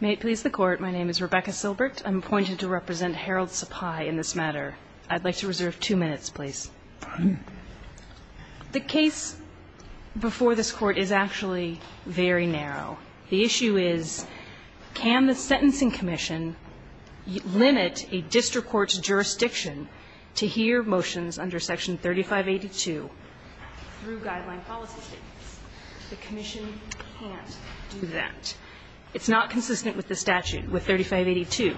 May it please the Court, my name is Rebecca Silbert. I'm appointed to represent Harold Sipai in this matter. I'd like to reserve two minutes, please. The case before this Court is actually very narrow. The issue is, can the Sentencing Commission limit a district court's jurisdiction to hear motions under Section 3582 through guideline policy statements? The commission can't do that. It's not consistent with the statute, with 3582.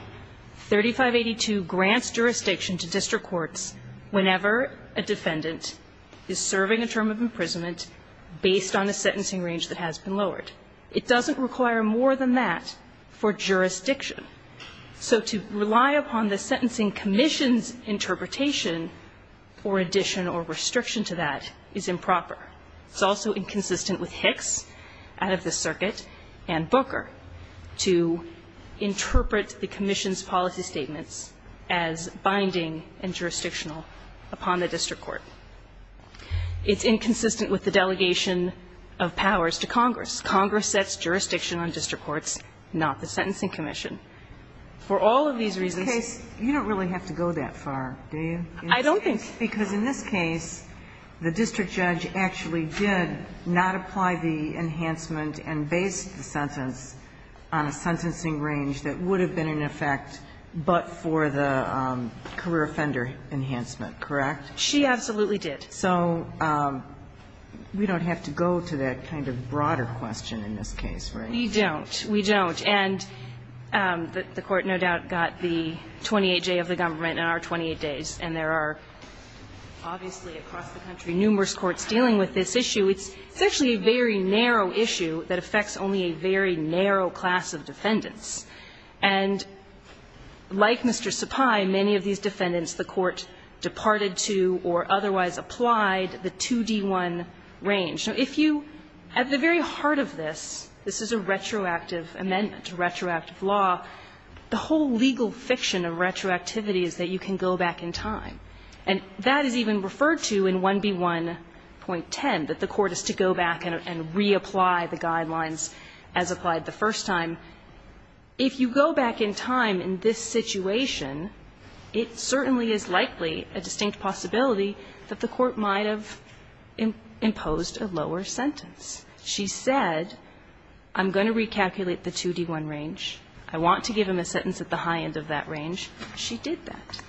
3582 grants jurisdiction to district courts whenever a defendant is serving a term of imprisonment based on a sentencing range that has been lowered. It doesn't require more than that for jurisdiction. So to rely upon the Sentencing Commission's interpretation or addition or restriction to that is improper. It's also inconsistent with Hicks out of the circuit and Booker to interpret the commission's policy statements as binding and jurisdictional upon the district court. It's inconsistent with the delegation of powers to Congress. Congress sets jurisdiction on district courts, not the Sentencing Commission. For all of these reasons you don't really have to go that far, do you? I don't think so. Because in this case, the district judge actually did not apply the enhancement and based the sentence on a sentencing range that would have been in effect but for the career offender enhancement, correct? She absolutely did. So we don't have to go to that kind of broader question in this case, right? We don't. We don't. And the Court no doubt got the 28-J of the government in our 28 days. And there are obviously across the country numerous courts dealing with this issue. It's actually a very narrow issue that affects only a very narrow class of defendants. And like Mr. Sapai, many of these defendants, the Court departed to or otherwise applied the 2D1 range. So if you, at the very heart of this, this is a retroactive amendment, a retroactive law, the whole legal fiction of retroactivity is that you can go back in time. And that is even referred to in 1B1.10, that the Court is to go back and reapply the guidelines as applied the first time. If you go back in time in this situation, it certainly is likely a distinct possibility that the Court might have imposed a lower sentence. She said, I'm going to recalculate the 2D1 range. I want to give him a sentence at the high end of that range. She did that.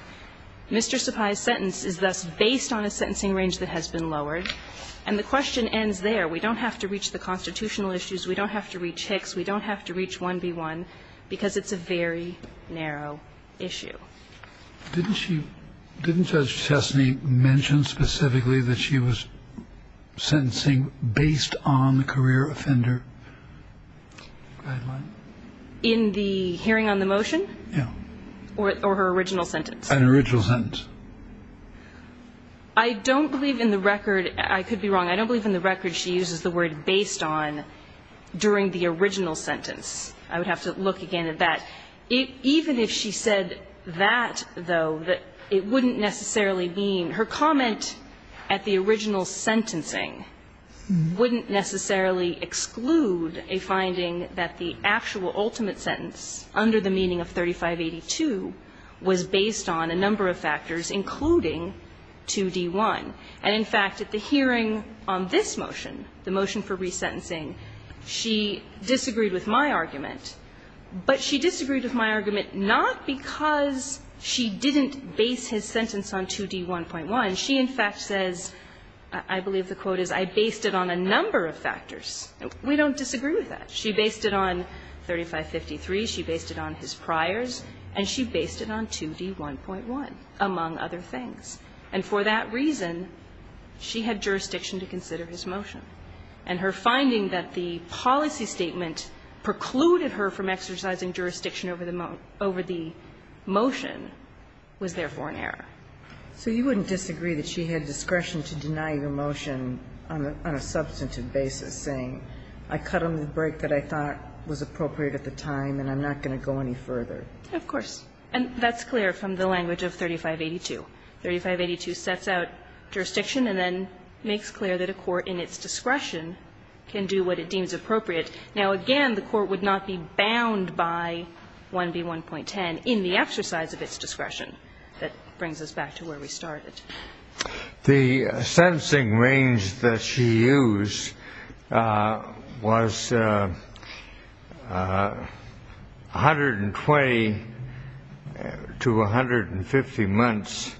Mr. Sapai's sentence is thus based on a sentencing range that has been lowered. And the question ends there. We don't have to reach the constitutional issues. We don't have to reach Hicks. We don't have to reach 1B1, because it's a very narrow issue. Didn't she – didn't Judge Chesney mention specifically that she was sentencing based on the career offender guideline? In the hearing on the motion? Yeah. Or her original sentence? An original sentence. I don't believe in the record – I could be wrong. I don't believe in the record she uses the word based on during the original sentence. I would have to look again at that. Even if she said that, though, it wouldn't necessarily mean – her comment at the original sentencing wouldn't necessarily exclude a finding that the actual ultimate sentence under the meaning of 3582 was based on a number of factors, including 2D1. And in fact, at the hearing on this motion, the motion for resentencing, she disagreed with my argument. But she disagreed with my argument not because she didn't base his sentence on 2D1.1. She, in fact, says – I believe the quote is, I based it on a number of factors. We don't disagree with that. She based it on 3553. She based it on his priors. And she based it on 2D1.1, among other things. And for that reason, she had jurisdiction to consider his motion. And her finding that the policy statement precluded her from exercising jurisdiction over the motion was therefore an error. So you wouldn't disagree that she had discretion to deny your motion on a substantive basis, saying I cut him the break that I thought was appropriate at the time and I'm not going to go any further? Of course. And that's clear from the language of 3582. 3582 sets out jurisdiction and then makes clear that a court in its discretion can do what it deems appropriate. Now, again, the court would not be bound by 1B1.10 in the exercise of its discretion. That brings us back to where we started. The sentencing range that she used was 120 to 150 months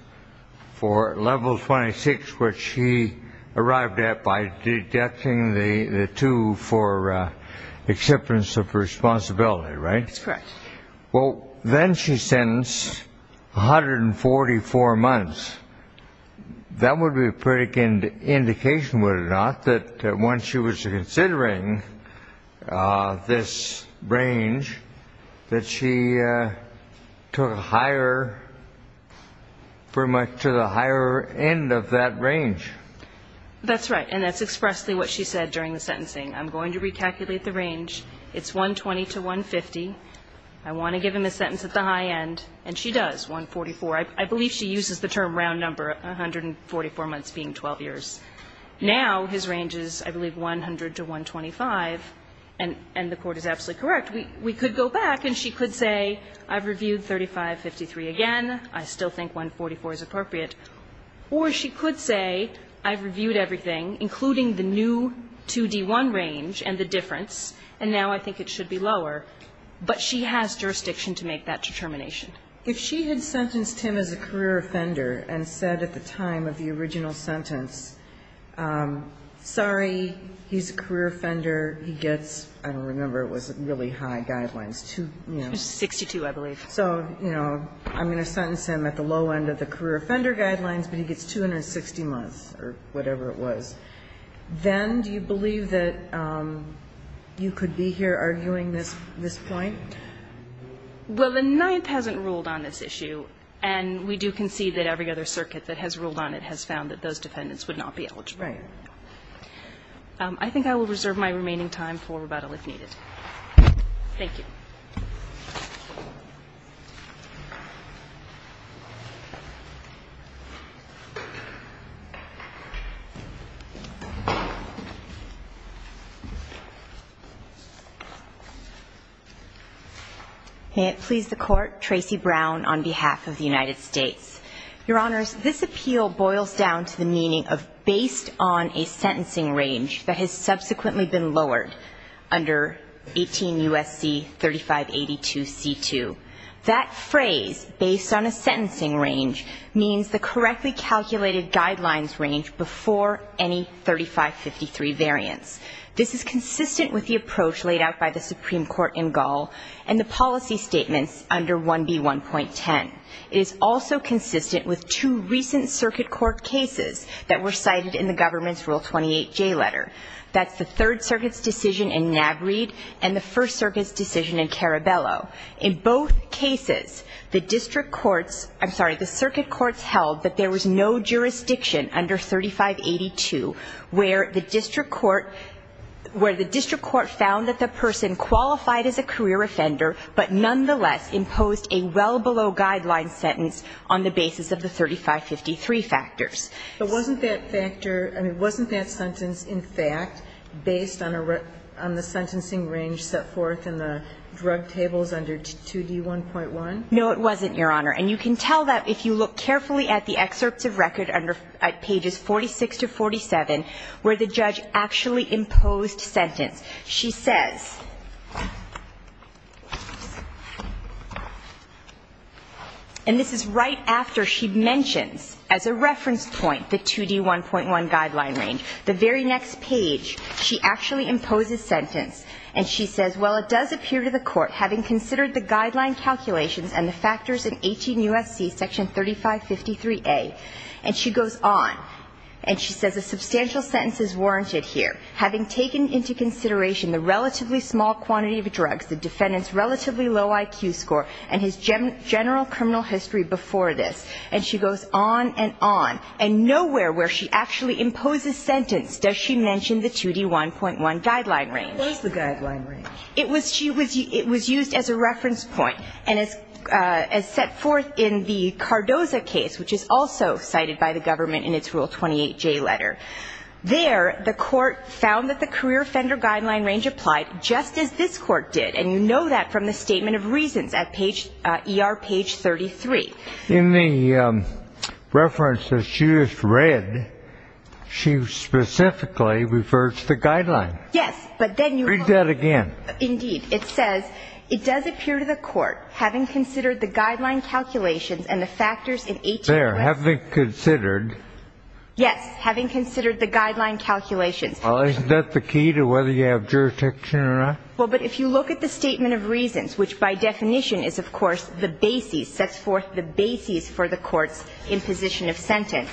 for level 26, which she arrived at by deducting the two for acceptance of responsibility, right? That's correct. Well, then she sentenced 144 months. That would be a pretty good indication, would it not, that when she was considering this range, that she took a higher, pretty much to the higher end of that range? That's right. And that's expressly what she said during the sentencing. I'm going to recalculate the range. It's 120 to 150. I want to give him a sentence at the high end. And she does, 144. I believe she uses the term round number, 144 months being 12 years. Now, his range is, I believe, 100 to 125, and the court is absolutely correct. We could go back and she could say, I've reviewed 3553 again. I still think 144 is appropriate. Or she could say, I've reviewed everything, including the new 2D1 range and the difference. And now I think it should be lower. But she has jurisdiction to make that determination. If she had sentenced him as a career offender and said at the time of the original sentence, sorry, he's a career offender, he gets, I don't remember, it was really high guidelines, two, you know. 62, I believe. So, you know, I'm going to sentence him at the low end of the career offender guidelines, but he gets 260 months or whatever it was. Then do you believe that you could be here arguing this point? Well, the Ninth hasn't ruled on this issue, and we do concede that every other circuit that has ruled on it has found that those defendants would not be eligible. Right. I think I will reserve my remaining time for rebuttal if needed. Thank you. May it please the Court, Tracy Brown on behalf of the United States. Your Honors, this appeal boils down to the meaning of based on a sentencing range that has subsequently been lowered under 18 U.S.C. 3582C2. That phrase, based on a sentencing range, means the correctly calculated guidelines range before any 3553 variance. This is consistent with the approach laid out by the Supreme Court in Gaul and the policy statements under 1B1.10. It is also consistent with two recent circuit court cases that were cited in the Jay letter, that's the Third Circuit's decision in Navreed and the First Circuit's decision in Carabello. In both cases, the district courts, I'm sorry, the circuit courts held that there was no jurisdiction under 3582 where the district court, where the district court found that the person qualified as a career offender, but nonetheless imposed a well below guideline sentence on the basis of the 3553 factors. But wasn't that factor, I mean, wasn't that sentence, in fact, based on a, on the sentencing range set forth in the drug tables under 2D1.1? No, it wasn't, Your Honor. And you can tell that if you look carefully at the excerpts of record under, at pages 46 to 47, where the judge actually imposed sentence. She says, and this is right after she mentions, as a reference point, that the judge imposed sentence. And she says, well, it does appear to the court, having considered the guideline calculations and the factors in 18 U.S.C. Section 3553A. And she goes on, and she says, a substantial sentence is warranted here, having taken into consideration the relatively small quantity of drugs, the defendant's relatively low IQ score, and his general criminal history before this. Nowhere where she actually imposes sentence does she mention the 2D1.1 guideline range. Where's the guideline range? It was, she was, it was used as a reference point, and as, as set forth in the Cardoza case, which is also cited by the government in its Rule 28J letter. There, the court found that the career offender guideline range applied, just as this court did. And you know that from the statement of reasons at page, ER page 33. into consideration the relatively small quantity of drugs, the defendant's generally Now, if you look at this line, cardiography, and you look at this thread, she specifically refers to the guideline. Yes, but then you have, indeed, it says. It does appear to the court, having considered the guideline calculations and the factors in 18 U.S. There, having considered. Yes, having considered the guideline calculations. Well, isn't that the key to whether you have jurisdiction or not? Well, but if you look at the statement of reasons, which by definition is, of course, the basis, sets forth the basis for the courts imposition of sentence.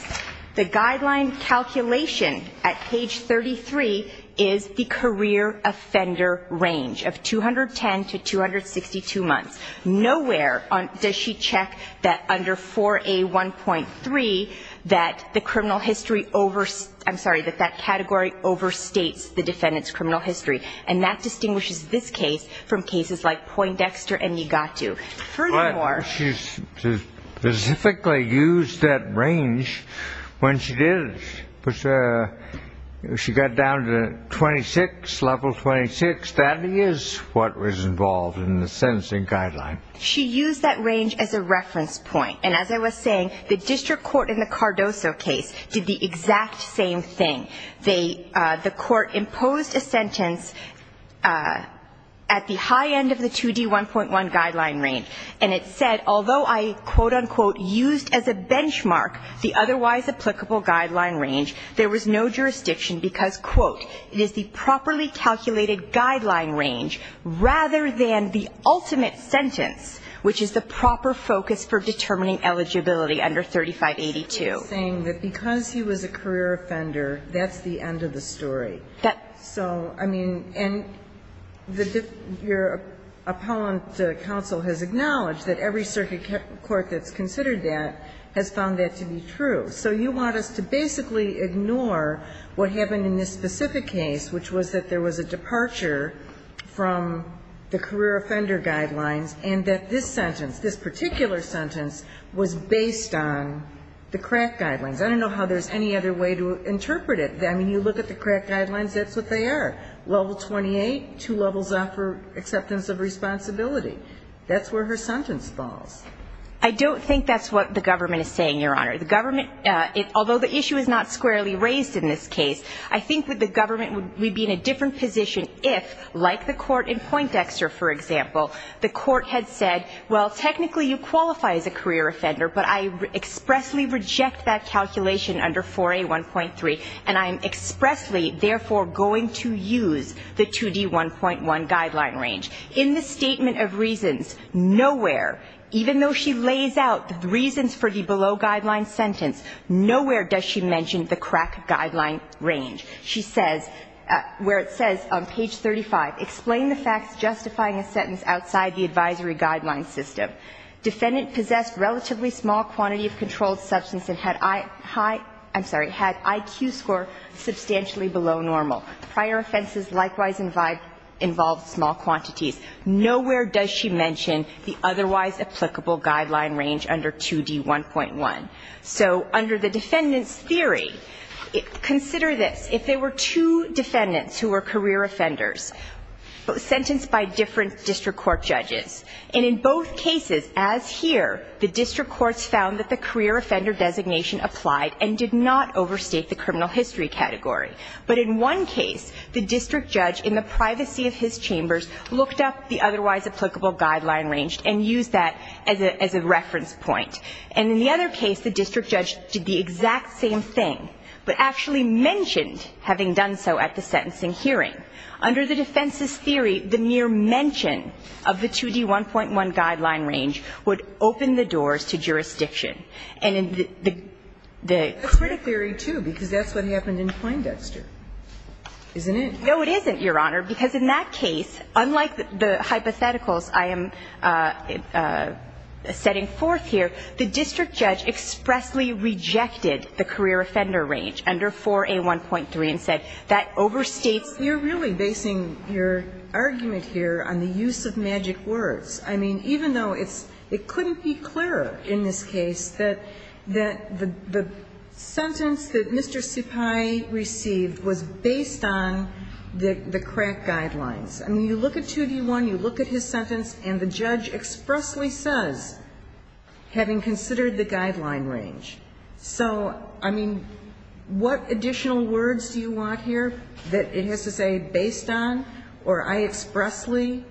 The guideline calculation at page 33 is the career offender range of 210 to 262 months. Nowhere does she check that under 4A1.3, that the criminal history over, I'm sorry, that that category overstates the defendant's criminal history. And that distinguishes this case from cases like Poindexter and Niigata. But, she specifically used that range when she did it. She got down to 26, level 26. That is what was involved in the sentencing guideline. She used that range as a reference point. And as I was saying, the district court in the Cardoso case did the exact same thing. They, the court imposed a sentence at the high end of the 2D1.1 guideline range. And it said, although I, quote, unquote, used as a benchmark the otherwise applicable guideline range, there was no jurisdiction because, quote, it is the properly calculated guideline range rather than the ultimate sentence, which is the proper focus for determining eligibility under 3582. Sotomayor saying that because he was a career offender, that's the end of the story. So, I mean, and the, your appellant counsel has acknowledged that every circuit court that's considered that has found that to be true. So you want us to basically ignore what happened in this specific case, which was that there was a departure from the career offender guidelines, and that this sentence, this particular sentence was based on the crack guidelines. I don't know how there's any other way to interpret it. I mean, you look at the crack guidelines, that's what they are. Level 28, two levels offer acceptance of responsibility. That's where her sentence falls. I don't think that's what the government is saying, Your Honor. The government, although the issue is not squarely raised in this case, I think that the government would be in a different position if, like the court in Poindexter, for example, the court had said, well, technically you qualify as a career offender, but I expressly reject that calculation under 4A1.3, and I am expressly, therefore, going to use the 2D1.1 guideline range. In the statement of reasons, nowhere, even though she lays out the reasons for the below guideline sentence, nowhere does she mention the crack guideline range. She says, where it says on page 35, Explain the facts justifying a sentence outside the advisory guideline system. Defendant possessed relatively small quantity of controlled substance and had IQ score substantially below normal. Prior offenses likewise involved small quantities. Nowhere does she mention the otherwise applicable guideline range under 2D1.1. So under the defendant's theory, consider this. If there were two defendants who were career offenders sentenced by different district court judges, and in both cases, as here, the district courts found that the career offender designation applied and did not overstate the criminal history category. But in one case, the district judge in the privacy of his chambers looked up the otherwise applicable guideline range and used that as a reference point. And in the other case, the district judge did the exact same thing, but actually mentioned having done so at the sentencing hearing. Under the defense's theory, the mere mention of the 2D1.1 guideline range would open the doors to jurisdiction. And in the, the, the. Kagan. That's pretty clear, too, because that's what happened in Kleindexter, isn't it? No, it isn't, Your Honor, because in that case, unlike the hypotheticals I am setting forth here, the district judge expressly rejected the career offender range under 4A1.3 and said, that overstates. You're really basing your argument here on the use of magic words. I mean, even though it's, it couldn't be clearer in this case that, that the, the sentence that Mr. Suppai received was based on the, the crack guidelines. I mean, you look at 2D1, you look at his sentence, and the judge expressly says, having considered the guideline range. So, I mean, what additional words do you want here that it has to say, based on, or I expressly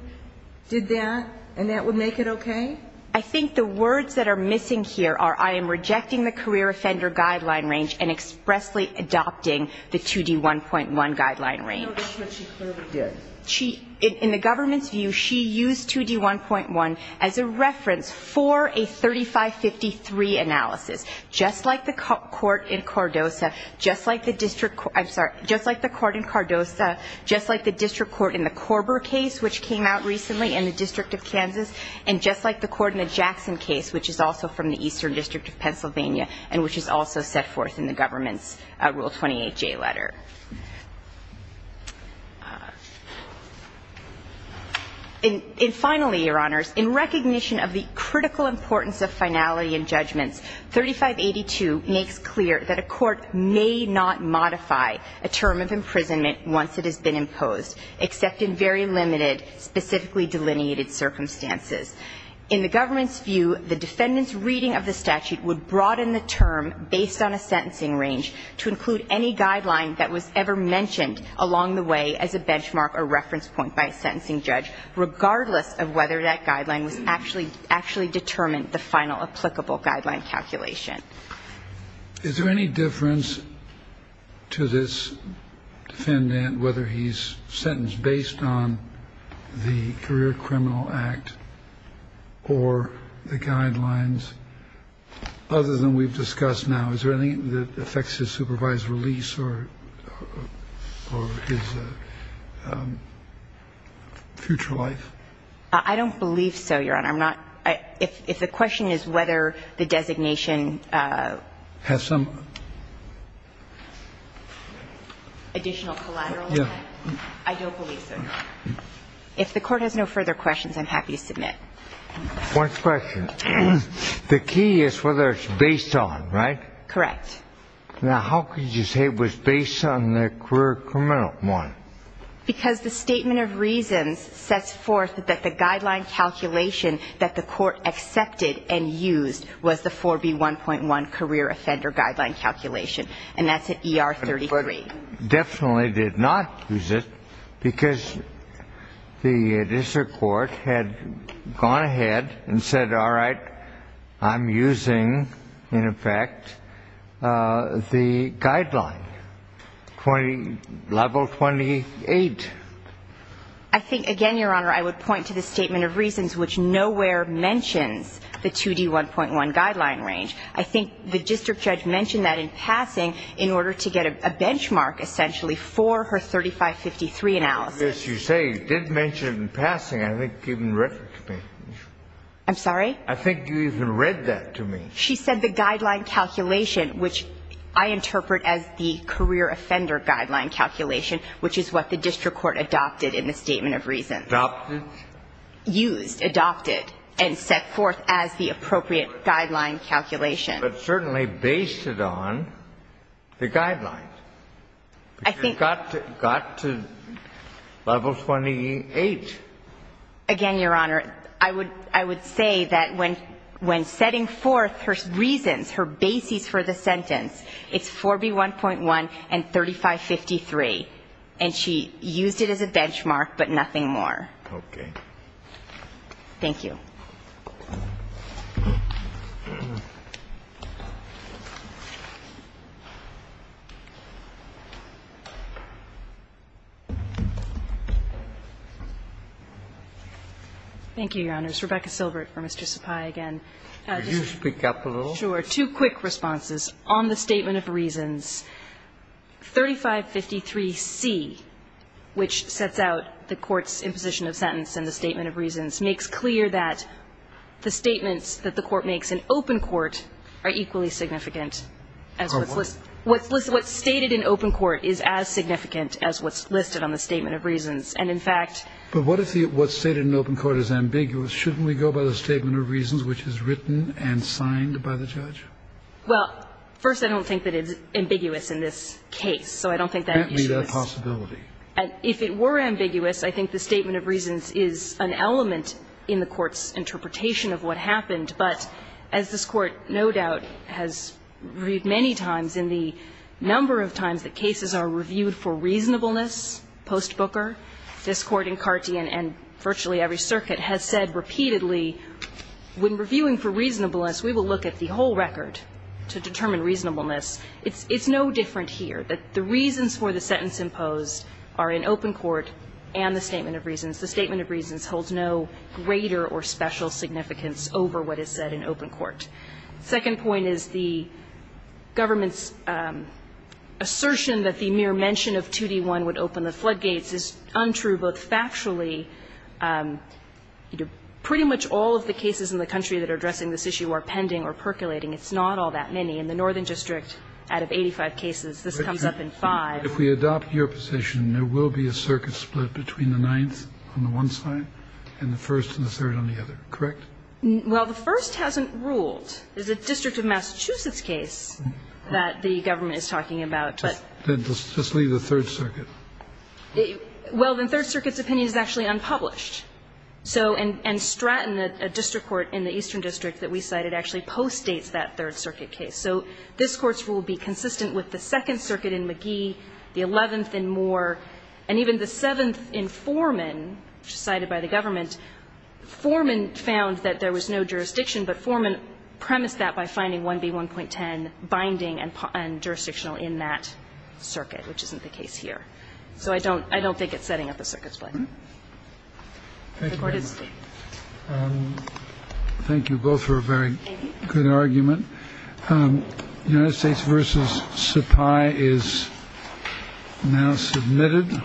did that, and that would make it okay? I think the words that are missing here are, I am rejecting the career offender guideline range and expressly adopting the 2D1.1 guideline range. No, that's what she clearly did. She, in the government's view, she used 2D1.1 as a reference for a 3553 analysis. Just like the court in Cardosa, just like the district, I'm sorry, just like the court in Cardosa, just like the district court in the Korber case, which came out recently in the District of Kansas, and just like the court in the Jackson case, which is also from the Eastern District of Pennsylvania, and which is also set forth in the government's Rule 28J letter. And finally, Your Honors, in recognition of the critical importance of finality in judgments, 3582 makes clear that a court may not modify a term of imprisonment once it has been imposed, except in very limited, specifically delineated circumstances. In the government's view, the defendant's reading of the statute would broaden the term based on a sentencing range to include any guideline that was ever mentioned along the way as a benchmark or reference point by a sentencing judge, regardless of whether that guideline was actually determined, the final applicable guideline calculation. Is there any difference to this defendant whether he's sentenced based on the guidelines that we've discussed now? Is there anything that affects his supervised release or his future life? I don't believe so, Your Honor. I'm not – if the question is whether the designation has some additional collateral effect, I don't believe so, Your Honor. If the Court has no further questions, I'm happy to submit. One question. The key is whether it's based on, right? Correct. Now, how could you say it was based on the career criminal one? Because the Statement of Reasons sets forth that the guideline calculation that the Court accepted and used was the 4B1.1 career offender guideline calculation, and that's an ER33. Definitely did not use it because the district court had gone ahead and said, all right, I'm using, in effect, the guideline, level 28. I think, again, Your Honor, I would point to the Statement of Reasons, which nowhere mentions the 2D1.1 guideline range. I think the district judge mentioned that in passing in order to get a benchmark, essentially, for her 3553 analysis. Yes, you say he did mention it in passing. I think you even referred to me. I'm sorry? I think you even read that to me. She said the guideline calculation, which I interpret as the career offender guideline calculation, which is what the district court adopted in the Statement of Reasons. Adopted? Used, adopted, and set forth as the appropriate guideline calculation. But certainly based it on the guidelines. I think you got to level 28. Again, Your Honor, I would say that when setting forth her reasons, her basis for the sentence, it's 4B1.1 and 3553. And she used it as a benchmark, but nothing more. Okay. Thank you. Thank you, Your Honors. Rebecca Silbert for Mr. Sapai again. Could you speak up a little? Two quick responses. On the Statement of Reasons, 3553C, which sets out the court's imposition of sentence in the Statement of Reasons, makes clear that the statements that the court makes in open court are equally significant as what's listed. What's stated in open court is as significant as what's listed on the Statement of Reasons. And in fact, But what if what's stated in open court is ambiguous? Shouldn't we go by the Statement of Reasons, which is written and signed by the judge? Well, first, I don't think that it's ambiguous in this case. So I don't think that it's ambiguous. Can't be that possibility. If it were ambiguous, I think the Statement of Reasons is an element in the court's interpretation of what happened. But as this Court, no doubt, has reviewed many times in the number of times that cases are reviewed for reasonableness post Booker, this Court in Carty and virtually every circuit has said repeatedly, when reviewing for reasonableness, we will look at the whole record to determine reasonableness. It's no different here. The reasons for the sentence imposed are in open court and the Statement of Reasons. The Statement of Reasons holds no greater or special significance over what is said in open court. The second point is the government's assertion that the mere mention of 2D1 would open the floodgates is untrue both factually, pretty much all of the cases in the Northern District out of 85 cases. This comes up in five. Kennedy. If we adopt your position, there will be a circuit split between the ninth on the one side and the first and the third on the other, correct? Well, the first hasn't ruled. There's a District of Massachusetts case that the government is talking about. Then just leave the Third Circuit. Well, then Third Circuit's opinion is actually unpublished. So and Stratton, a district court in the Eastern District that we cited, actually postdates that Third Circuit case. So this Court's rule would be consistent with the Second Circuit in McGee, the eleventh in Moore, and even the seventh in Foreman, which is cited by the government. Foreman found that there was no jurisdiction, but Foreman premised that by finding 1B1.10 binding and jurisdictional in that circuit, which isn't the case here. So I don't think it's setting up a circuit split. Thank you very much. Thank you both for a very good argument. United States versus supply is now submitted.